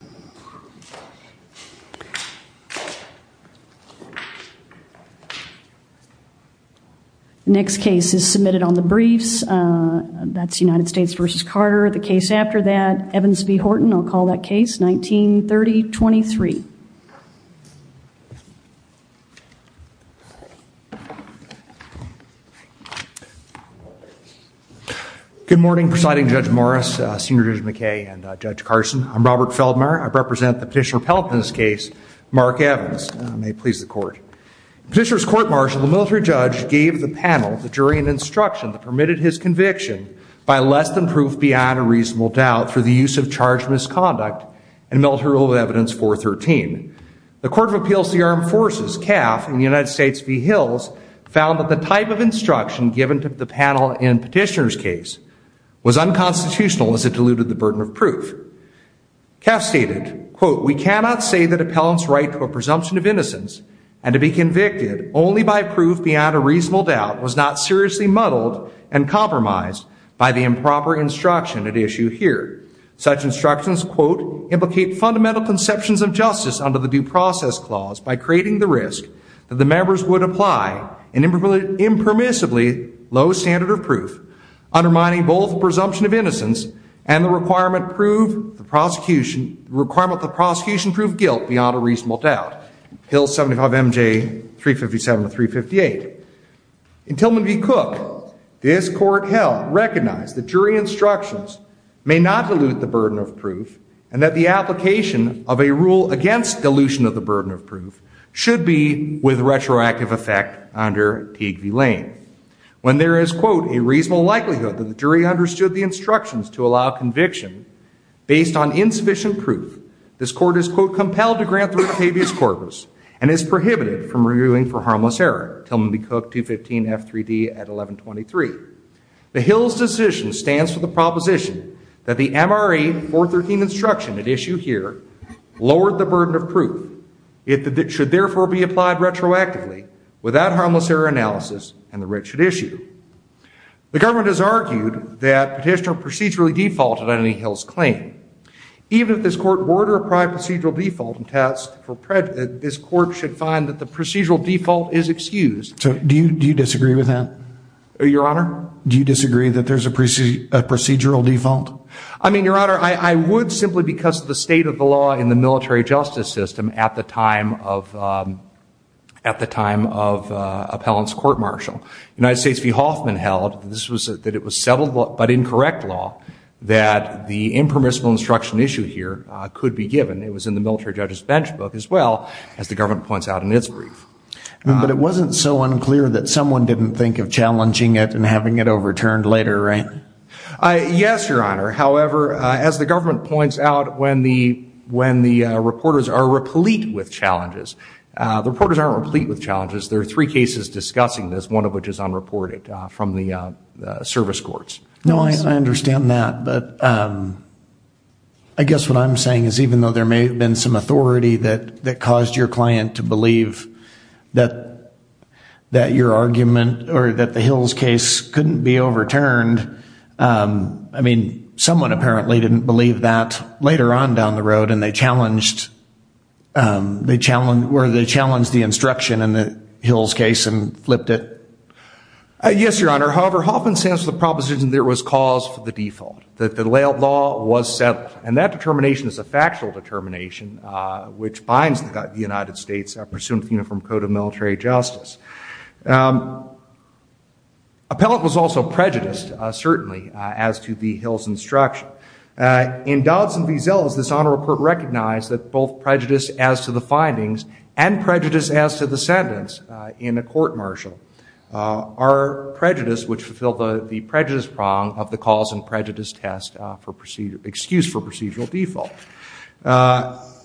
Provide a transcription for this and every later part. The next case is submitted on the briefs. That's United States v. Carter. The case after that, Evans v. Horton. I'll call that case 1930-23. Good morning, Presiding Judge Morris, Senior Judge McKay, and Judge Carson. I'm Robert Feldmayer. I represent the Petitioner-Appellant in this case, Mark Evans. May it please the Court. Petitioner's court-martial, the military judge gave the panel, the jury, an instruction that permitted his conviction by less than proof beyond a reasonable doubt for the use of charged misconduct in Military Rule of Evidence 413. The Court of Appeals to the Armed Forces, CAF, in the United States v. Hills, found that the type of instruction given to the panel in Petitioner's case was unconstitutional as it diluted the burden of proof. CAF stated, quote, we cannot say that appellant's right to a presumption of innocence and to be convicted only by proof beyond a reasonable doubt was not seriously muddled and compromised by the improper instruction at issue here. Such instructions, quote, implicate fundamental conceptions of justice under the Due Process Clause by creating the risk that the members would apply an impermissibly low standard of proof, undermining both presumption of innocence and the requirement the prosecution prove guilt beyond a reasonable doubt. Hills 75 MJ 357 to 358. In Tillman v. Cook, this court recognized that jury instructions may not dilute the burden of proof and that the application of a rule against dilution of the burden of proof should be with retroactive effect under Teague v. Lane. When there is, quote, a reasonable likelihood that the jury understood the instructions to allow conviction based on insufficient proof, this court is, quote, compelled to grant the Octavius Corpus and is prohibited from reviewing for harmless error. Tillman v. Cook 215 F3D at 1123. The Hills decision stands for the proposition that the MRE 413 instruction at issue here lowered the burden of proof. It should therefore be applied retroactively without harmless error analysis and the writ should issue. The government has argued that petitioner procedurally defaulted any Hills claim. Even if this court were to apply procedural default and test for prejudice, this court should find that the procedural default is excused. So do you disagree with that? Your honor? Do you disagree that there's a procedural default? I mean, your honor, I would simply because of the state of the law in the military justice system at the time of appellant's court marshal. United States v. Hoffman held that it was settled but incorrect law that the impermissible instruction issue here could be given. It was in the military judge's bench book as well, as the government points out in its brief. But it wasn't so unclear that someone didn't think of challenging it and having it overturned later, right? Yes, your honor. However, as the government points out, when the reporters are replete with challenges, the reporters aren't replete with challenges. There are three cases discussing this, one of which is unreported from the service courts. No, I understand that. But I guess what I'm saying is even though there may have been some authority that caused your client to believe that your argument or that the Hills case couldn't be overturned, I mean, someone apparently didn't believe that later on down the road, and they challenged the instruction in the Hills case and flipped it. Yes, your honor. However, Hoffman stands to the proposition there was cause for the default, that the layout law was settled. And that determination is a factual determination, which binds the United States pursuant to the Uniform Code of Military Justice. Appellant was also prejudiced, certainly, as to the Hills instruction. In Dodds and Vizelas, this Honor Report recognized that both prejudice as to the findings and prejudice as to the sentence in a court-martial are prejudiced, which fulfill the prejudice prong of the cause and prejudice test for excuse for procedural default.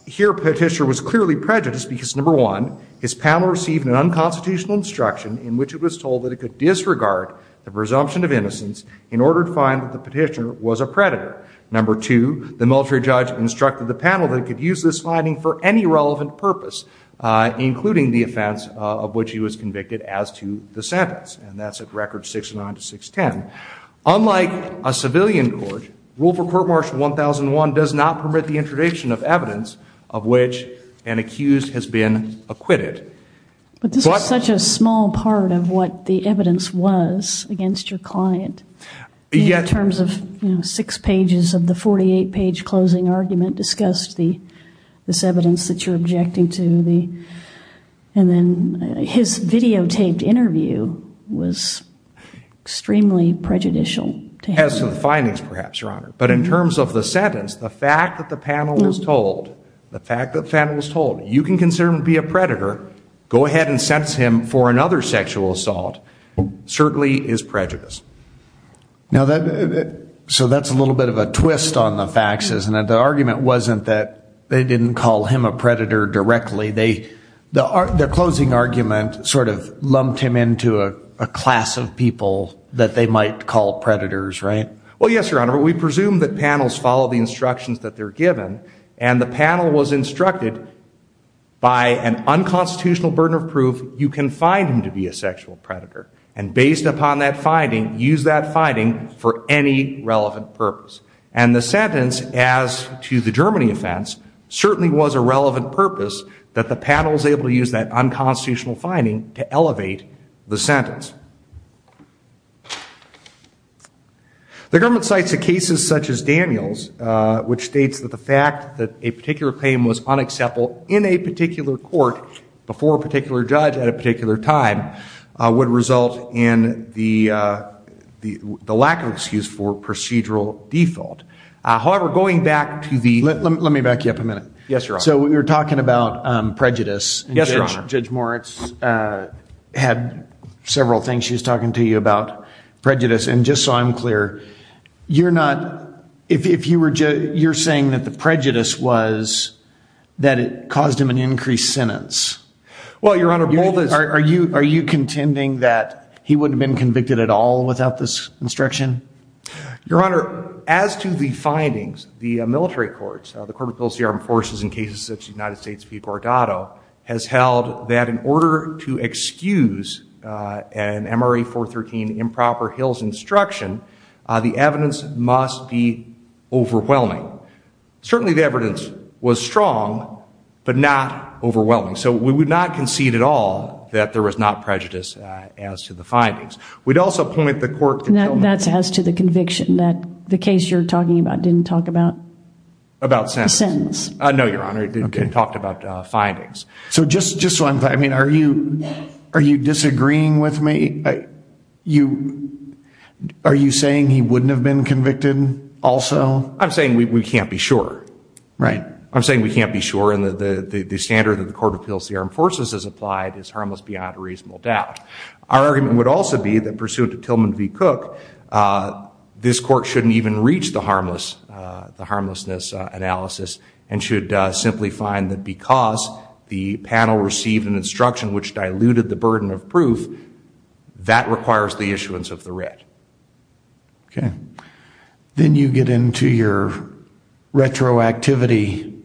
Here, Petitioner was clearly prejudiced because, number one, his panel received an unconstitutional instruction in which it was told that it could disregard the presumption of innocence in order to find that the petitioner was a predator. Number two, the military judge instructed the panel that it could use this finding for any relevant purpose, including the offense of which he was convicted as to the sentence. And that's at record 6-9 to 6-10. Unlike a civilian court, Rule for Court Martial 1001 does not permit the introduction of evidence of which an accused has been acquitted. But this is such a small part of what the evidence was against your client. In terms of, you know, six pages of the 48-page closing argument discussed this evidence that you're objecting to. And then his videotaped interview was extremely prejudicial to him. As to the findings, perhaps, Your Honor. But in terms of the sentence, the fact that the panel was told, the fact that the panel was told, you can consider him to be a predator, go ahead and sentence him for another sexual assault, certainly is prejudiced. Now that, so that's a little bit of a twist on the facts, isn't it? The argument wasn't that they didn't call him a predator directly. They, the closing argument sort of lumped him into a class of people that they might call predators, right? Well, yes, Your Honor. But we presume that panels follow the instructions that they're given. And the panel was instructed by an unconstitutional burden of proof, you can find him to be a sexual predator. And based upon that finding, use that finding for any relevant purpose. And the sentence, as to the Germany offense, certainly was a relevant purpose that the panel was able to use that unconstitutional finding to elevate the sentence. The government cites the cases such as Daniel's, which states that the fact that a particular claim was unacceptable in a particular court before a particular judge at a particular time would result in the lack of excuse for procedural default. However, going back to the- Let me back you up a minute. Yes, Your Honor. So we were talking about prejudice. Yes, Your Honor. Judge Moritz had several things she was talking to you about, prejudice. And just so I'm clear, you're not, if you were, you're saying that the prejudice was that it caused him an increased sentence. Well, Your Honor, both of- Are you contending that he wouldn't have been convicted at all without this instruction? Your Honor, as to the findings, the military courts, the Court of Appeals to the Armed that in order to excuse an MRE 413 improper Hills instruction, the evidence must be overwhelming. Certainly the evidence was strong, but not overwhelming. So we would not concede at all that there was not prejudice as to the findings. We'd also point the court to- That's as to the conviction that the case you're talking about didn't talk about- About sentence. Sentence. No, Your Honor, it didn't talk about findings. So just so I'm clear, I mean, are you disagreeing with me? Are you saying he wouldn't have been convicted also? I'm saying we can't be sure. Right. I'm saying we can't be sure. And the standard that the Court of Appeals to the Armed Forces has applied is harmless beyond a reasonable doubt. Our argument would also be that pursuant to Tillman v. Cook, this court shouldn't even reach the harmlessness analysis and should simply find that because the panel received an instruction which diluted the burden of proof, that requires the issuance of the writ. Okay. Then you get into your retroactivity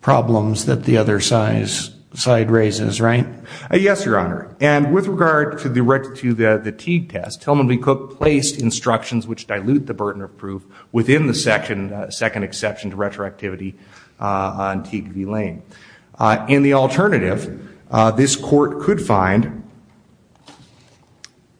problems that the other side raises, right? Yes, Your Honor. And with regard to the Teague test, Tillman v. Cook placed instructions which dilute the burden of proof within the second exception to retroactivity on Teague v. Lane. In the alternative, this court could find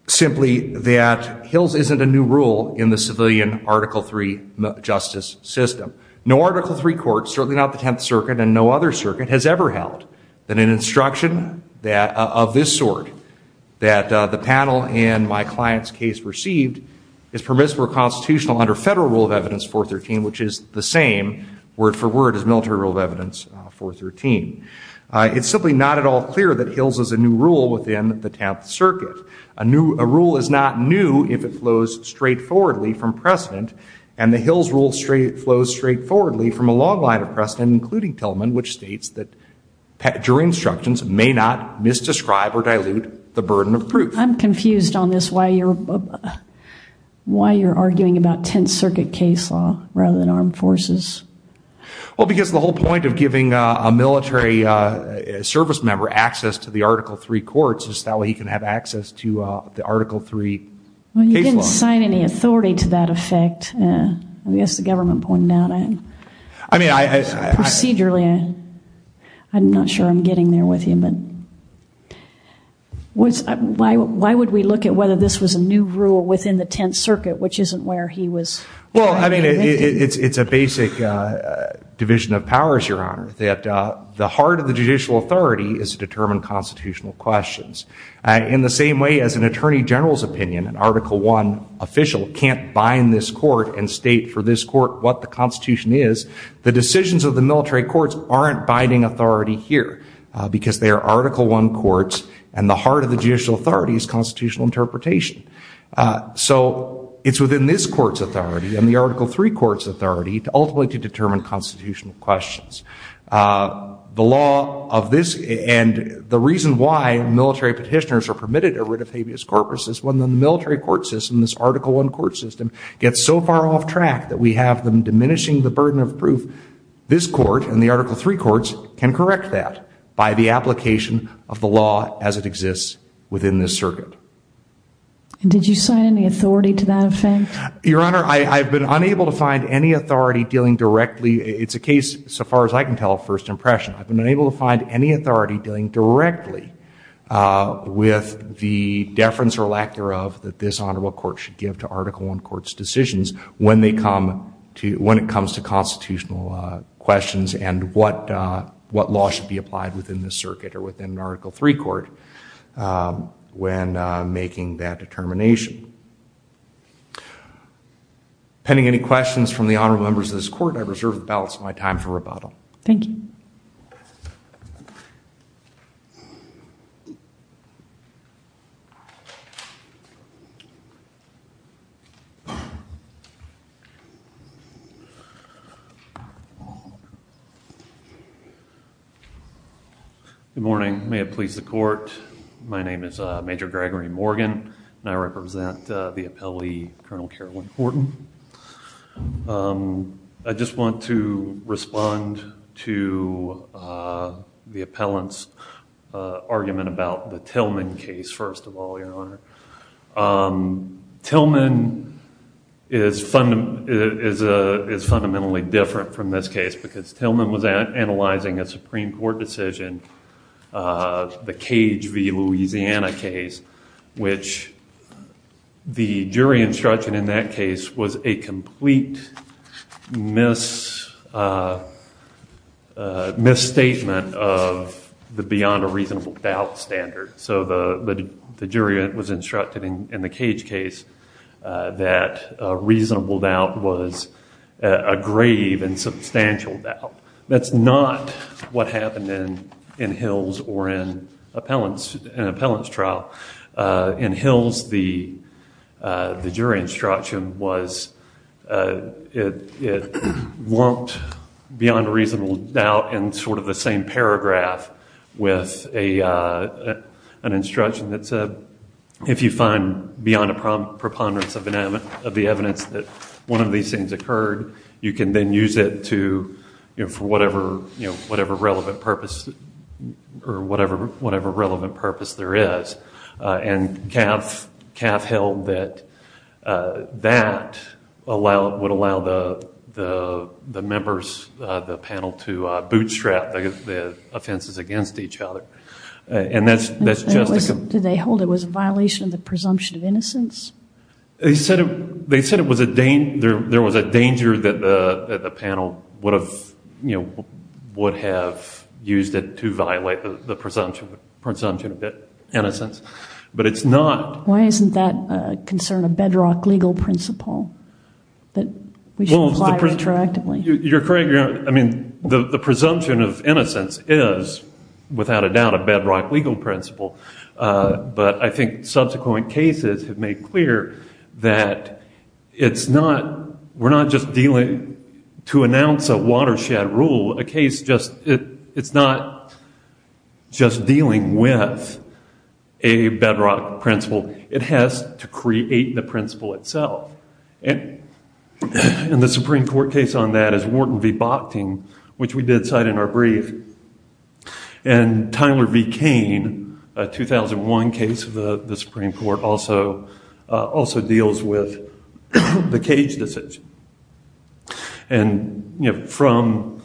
simply that Hills isn't a new rule in the civilian Article III justice system. No Article III court, certainly not the Tenth Circuit and no other circuit, has ever held that an instruction of this sort that the panel in my client's case received is permissible under federal Rule of Evidence 413 which is the same word for word as military Rule of Evidence 413. It's simply not at all clear that Hills is a new rule within the Tenth Circuit. A rule is not new if it flows straightforwardly from precedent and the Hills rule flows straightforwardly from a long line of precedent including Tillman which states that your instructions may not misdescribe or dilute the burden of proof. I'm confused on this why you're arguing about Tenth Circuit case law rather than armed forces. Well, because the whole point of giving a military service member access to the Article III courts is that way he can have access to the Article III case law. Well, you didn't assign any authority to that effect. I guess the government pointed out that procedurally. I'm not sure I'm getting there with you. But why would you want to why would we look at whether this was a new rule within the Tenth Circuit which isn't where he was? Well, I mean it's a basic division of powers, Your Honor, that the heart of the judicial authority is to determine constitutional questions. In the same way as an attorney general's opinion an Article I official can't bind this court and state for this court what the Constitution is, the decisions of the military courts aren't binding authority here because they are Article I courts and the heart of the judicial authority is constitutional interpretation. So it's within this court's authority and the Article III court's authority ultimately to determine constitutional questions. The law of this and the reason why military petitioners are permitted a writ of habeas corpus is when the military court system, this Article I court system, gets so far off track that we have them diminishing the burden of proof, this court and the Article III courts can correct that by the application of the law as it exists within this circuit. Did you sign any authority to that effect? Your Honor, I've been unable to find any authority dealing directly, it's a case so far as I can tell of first impression, I've been unable to find any authority dealing directly with the deference or lack thereof that this honorable court should give to Article I court's decisions when it comes to constitutional questions and what law should be applied within this circuit or within an Article III court when making that determination. Pending any questions from the honorable members of this court, I reserve the balance of my time for rebuttal. Good morning, may it please the court, my name is Major Gregory Morgan and I represent the appellee Colonel Carolyn Horton. I just want to respond to the appellant's argument about the Tillman case first of all, Your Honor. Tillman is fundamentally different from this case because Tillman was analyzing a Supreme Court decision, the Cage v. Louisiana case, which the jury instruction in that case was a complete misstatement of the beyond a reasonable doubt standard. So the jury was instructed in the Cage case that a reasonable doubt was a grave and substantial doubt. That's not what happened in Hills or in an appellant's trial. In Hills, the jury instruction was it lumped beyond a reasonable doubt in sort of the same paragraph with an instruction that said, if you find beyond a preponderance of the evidence that one of these things occurred, you can then use it for whatever relevant purpose there is. CAF held that that would allow the members, the panel, to bootstrap the offenses against each other. Did they hold it was a violation of the presumption of innocence? They said there was a danger that the panel would have used it to violate the presumption of innocence, but it's not. Why isn't that a concern, a bedrock legal principle? The presumption of innocence is, without a doubt, a bedrock legal principle, but I think subsequent cases have made clear that we're not just dealing to announce a watershed rule. It's not just dealing with a bedrock principle. It has to create the bedrock. The Supreme Court case on that is Wharton v. Bochting, which we did cite in our brief. Tyler v. Kane, a 2001 case of the Supreme Court, also deals with the cage decision. From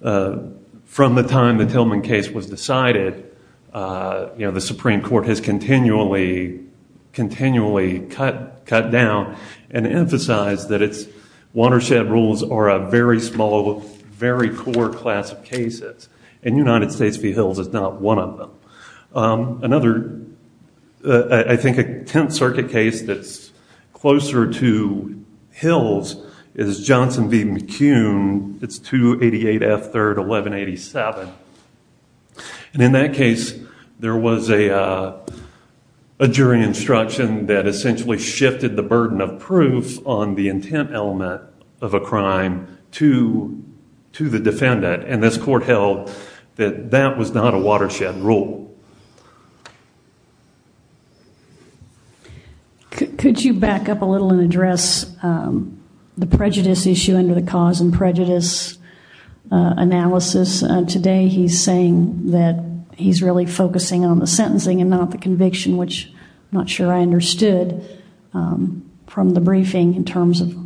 the time the Tillman case was decided, the Supreme Court has continually cut down and emphasized that its watershed rules are a very small, very poor class of cases, and United States v. Hills is not one of them. Another, I think a Tenth Circuit case that's closer to Hills is Johnson v. McCune. It's 288 F. 3rd, 1187. In that case, there was a jury instruction that essentially shifted the burden of proof on the intent element of a crime to the defendant, and this court held that that was not a watershed rule. Could you back up a little and address the prejudice issue under the cause and prejudice analysis? Today, he's saying that he's really focusing on the sentencing and not the conviction, which I'm not sure I understood from the briefing in terms of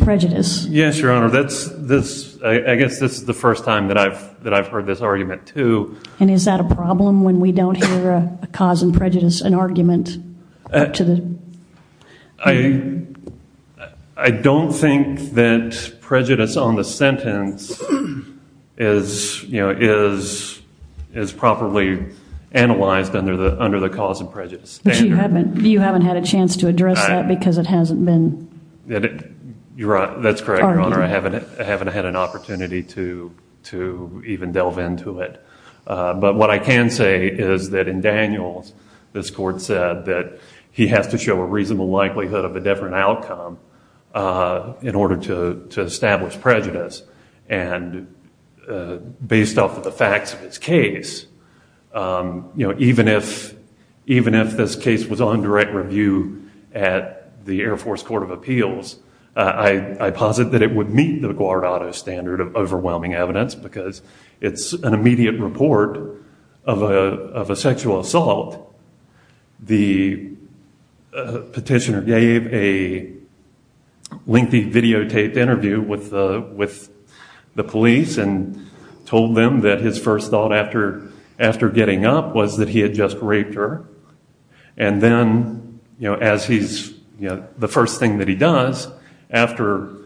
prejudice. Yes, Your Honor. I guess this is the first time that I've heard this argument, too. Is that a problem when we don't hear a cause and prejudice, an argument? I don't think that prejudice on the sentence is properly analyzed under the cause and prejudice. But you haven't had a chance to address that because it hasn't been argued? That's correct, Your Honor. I haven't had an opportunity to even delve into it. But what I can say is that in Daniels, this court said that he has to show a reasonable likelihood of a different outcome in order to establish prejudice. And based off of the facts of his case, even if this case was on direct review at the Air Force Court of Appeals, I posit that it would meet the Guardado standard of overwhelming evidence because it's an immediate report of a sexual assault. The petitioner gave a lengthy videotaped interview with the police and told them that his first thought after getting up was that he had just raped her. And then as he's, the first thing that he does after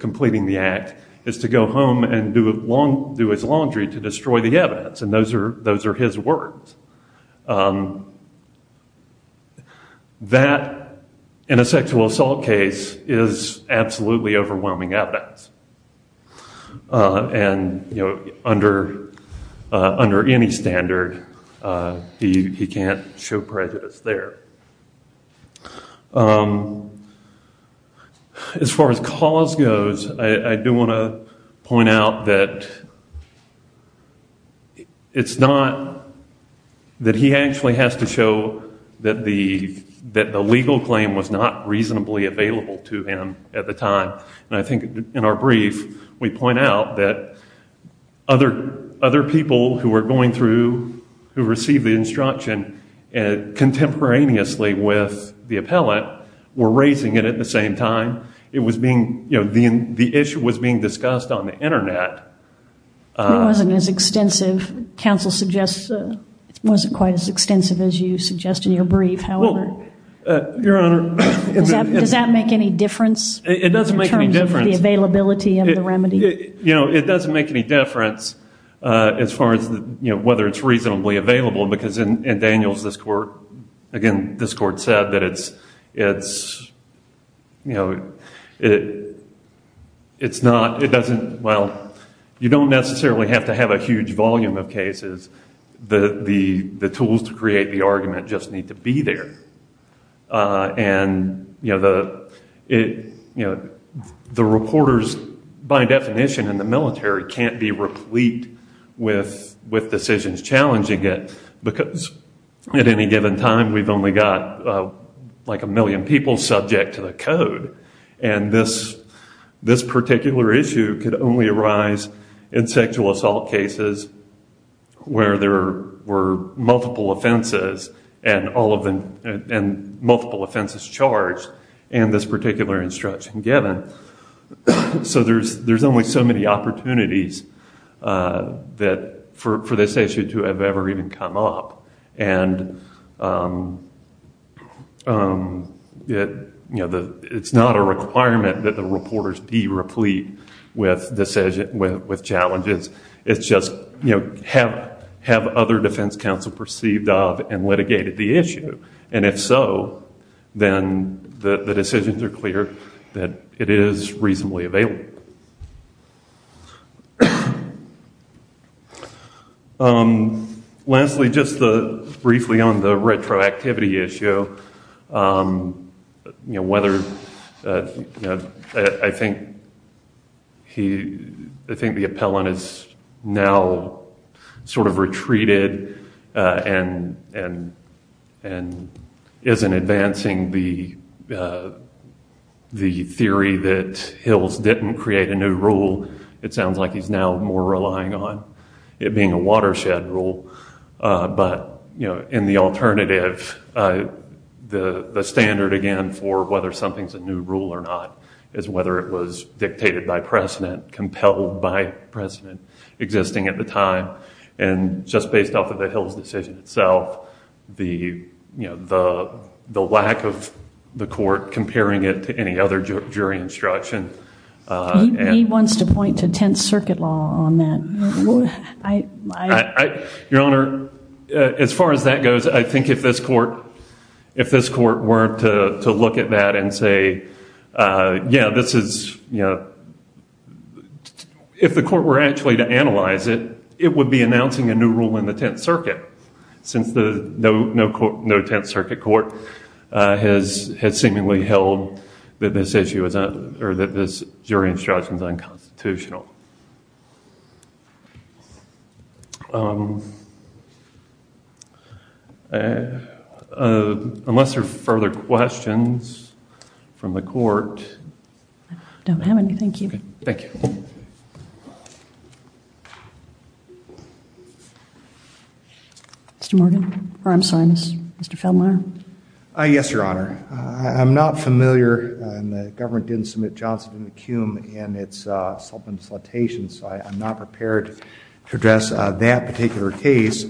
completing the act is to go home and do his laundry to destroy the evidence. And those are his words. That, in a sexual assault case, is absolutely overwhelming evidence. And, you know, under any standard, he can't show prejudice there. As far as cause goes, I do want to point out that it's not that he actually has to show that the legal claim was not reasonably available to him at the time. And I think in our brief, we point out that other people who were going through, who received the instruction contemporaneously with the appellate, were not. It wasn't quite as extensive as you suggest in your brief. Does that make any difference in terms of the availability of the remedy? It doesn't make any difference as far as whether it's reasonably available, because in Daniels this court, again, this court said that it's, you know, it's not, it doesn't, well, it's not, you don't necessarily have to have a huge volume of cases. The tools to create the argument just need to be there. And, you know, the reporters, by definition in the military, can't be replete with decisions challenging it, because at any given time we've only got like a million people subject to the code. And this particular issue could only arise in sexual assault cases where there were multiple offenses and all of them, and multiple offenses charged in this particular instruction given. So there's only so many opportunities that, for this issue to have ever even come up. And, you know, it's not a requirement that the reporters be replete with challenges. It's just, you know, have other defense counsel perceived of and litigated the issue. And if so, then the decisions are clear that it is reasonably available. Leslie, just briefly on the retroactivity issue, you know, whether, you know, whether I think he, I think the appellant is now sort of retreated and isn't advancing the theory that Hills didn't create a new rule. It sounds like he's now more relying on it being a watershed rule. But, you know, in the alternative, the standard again for whether something's a new rule or not is whether it was dictated by precedent, compelled by precedent existing at the time. And just based off of the Hills decision itself, the, you know, the lack of the court comparing it to any other jury instruction. He wants to point to Tenth Circuit law on that. Your Honor, as far as that goes, I think if this court, if this court weren't to look at that and say, yeah, this is, you know, if the court were actually to analyze it, it would be announcing a new rule in the Tenth Circuit since the no Tenth Circuit court has seemingly held that this issue is, or that this jury instruction is unconstitutional. Unless there are further questions from the court. I don't have any, thank you. Mr. Morgan, or I'm sorry, Mr. Feldmayer. Yes, Your Honor. I'm not familiar, and the government didn't submit Johnson v. McComb in its subliminal citation, so I'm not prepared to address that particular case.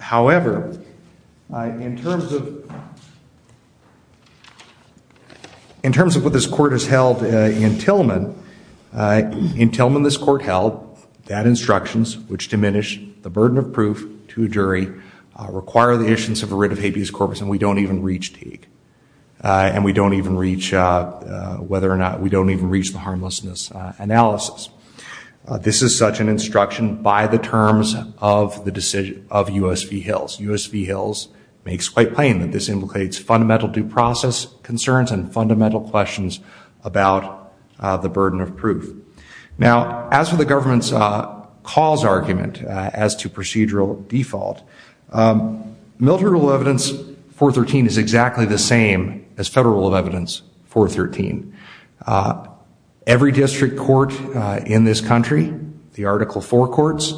However, in terms of what this court has held in Tillman, in Tillman this court held that instructions which diminish the burden of proof to a jury require the issuance of a writ of habeas corpus, and we don't even reach Teague. And we don't even reach whether or not, we don't even reach the harmlessness analysis. This is such an instruction by the terms of the decision of U.S. v. Hills. U.S. v. Hills makes quite plain that this implicates fundamental due process concerns and fundamental questions about the burden of proof. Now as for the government's cause argument as to procedural default, military rule evidence 413 is exactly the same as federal rule of evidence 413. Every district court in this country, the Article 4 courts,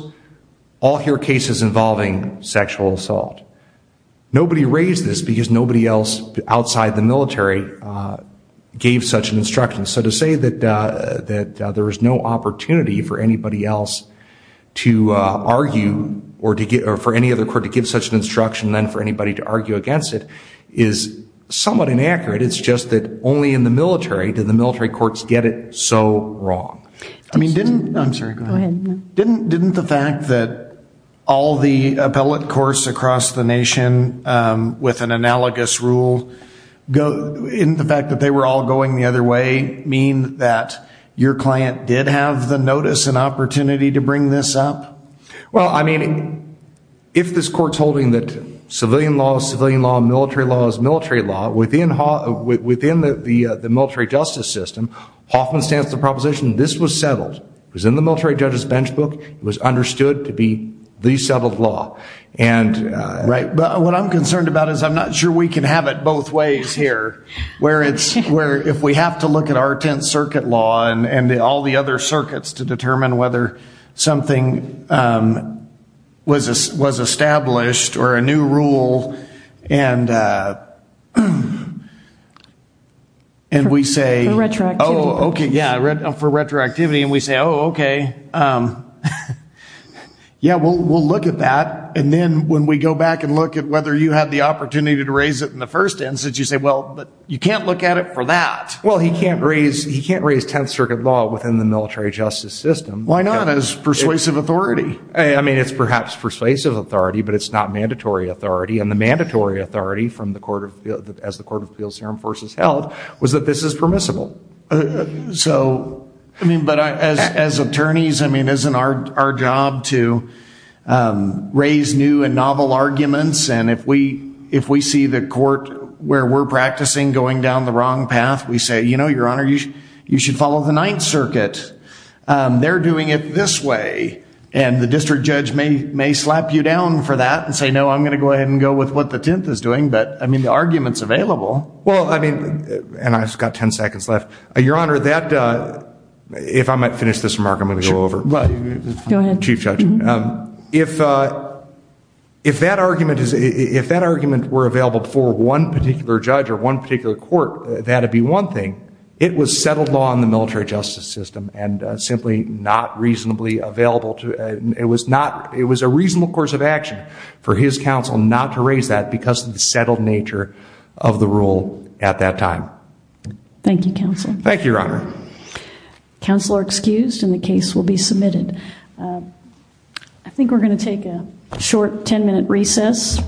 all hear cases involving sexual assault. Nobody raised this because nobody else outside the military gave such an instruction. So to say that there is no opportunity for anybody else to argue, or for any other court to give such an instruction than for anybody to argue against it, is somewhat inaccurate. It's just that only in the military do the military courts get it so wrong. I mean didn't, I'm sorry go ahead, didn't the fact that all the appellate courts across the nation with an analogous rule, didn't the fact that they were all going the other way mean that your client did have the notice and opportunity to bring this up? Well I mean, if this court's holding that civilian law is civilian law, military law is military law, within the military justice system, Hoffman stands to the proposition this was settled. It was in the military judge's bench book, it was understood to be the settled law. And right, but what I'm concerned about is I'm not sure we can have it both ways here. Where it's, where if we have to look at our 10th circuit law and all the other circuits to determine whether something was established or a new rule and we say, oh okay, yeah for retroactivity and we say oh okay, yeah we'll look at that and then when we go back and look at whether you had the opportunity to raise it in the first instance, you say well you can't look at it for that. Well he can't raise, he can't raise 10th circuit law within the military justice system. Why not? As persuasive authority. I mean it's perhaps persuasive authority but it's not mandatory authority and the mandatory authority from the court of, as the Court of Appeals Serum Forces held, was that this is permissible. So I mean, but as attorneys, I mean isn't our job to raise new and novel arguments and if we, if we see the court where we're practicing going down the wrong path, we say you know your honor, you should follow the 9th circuit. They're doing it this way and the district judge may slap you down for that and say no, I'm going to go ahead and go with what the 10th is doing but I mean the argument's available. Well I mean, and I've just got 10 seconds left. Your honor, that, if I might finish this remark, I'm going to go over it. Go ahead. Chief Judge. If, if that argument is, if that argument were available before one particular judge or one particular court, that'd be one thing. It was settled law in the military justice system and simply not reasonably available to, it was not, it was a reasonable course of action for his counsel not to raise that because of the settled nature of the rule at that time. Thank you counsel. Thank you your honor. Counsel are excused and the case will be submitted. I think we're going to take a short 10 minute recess.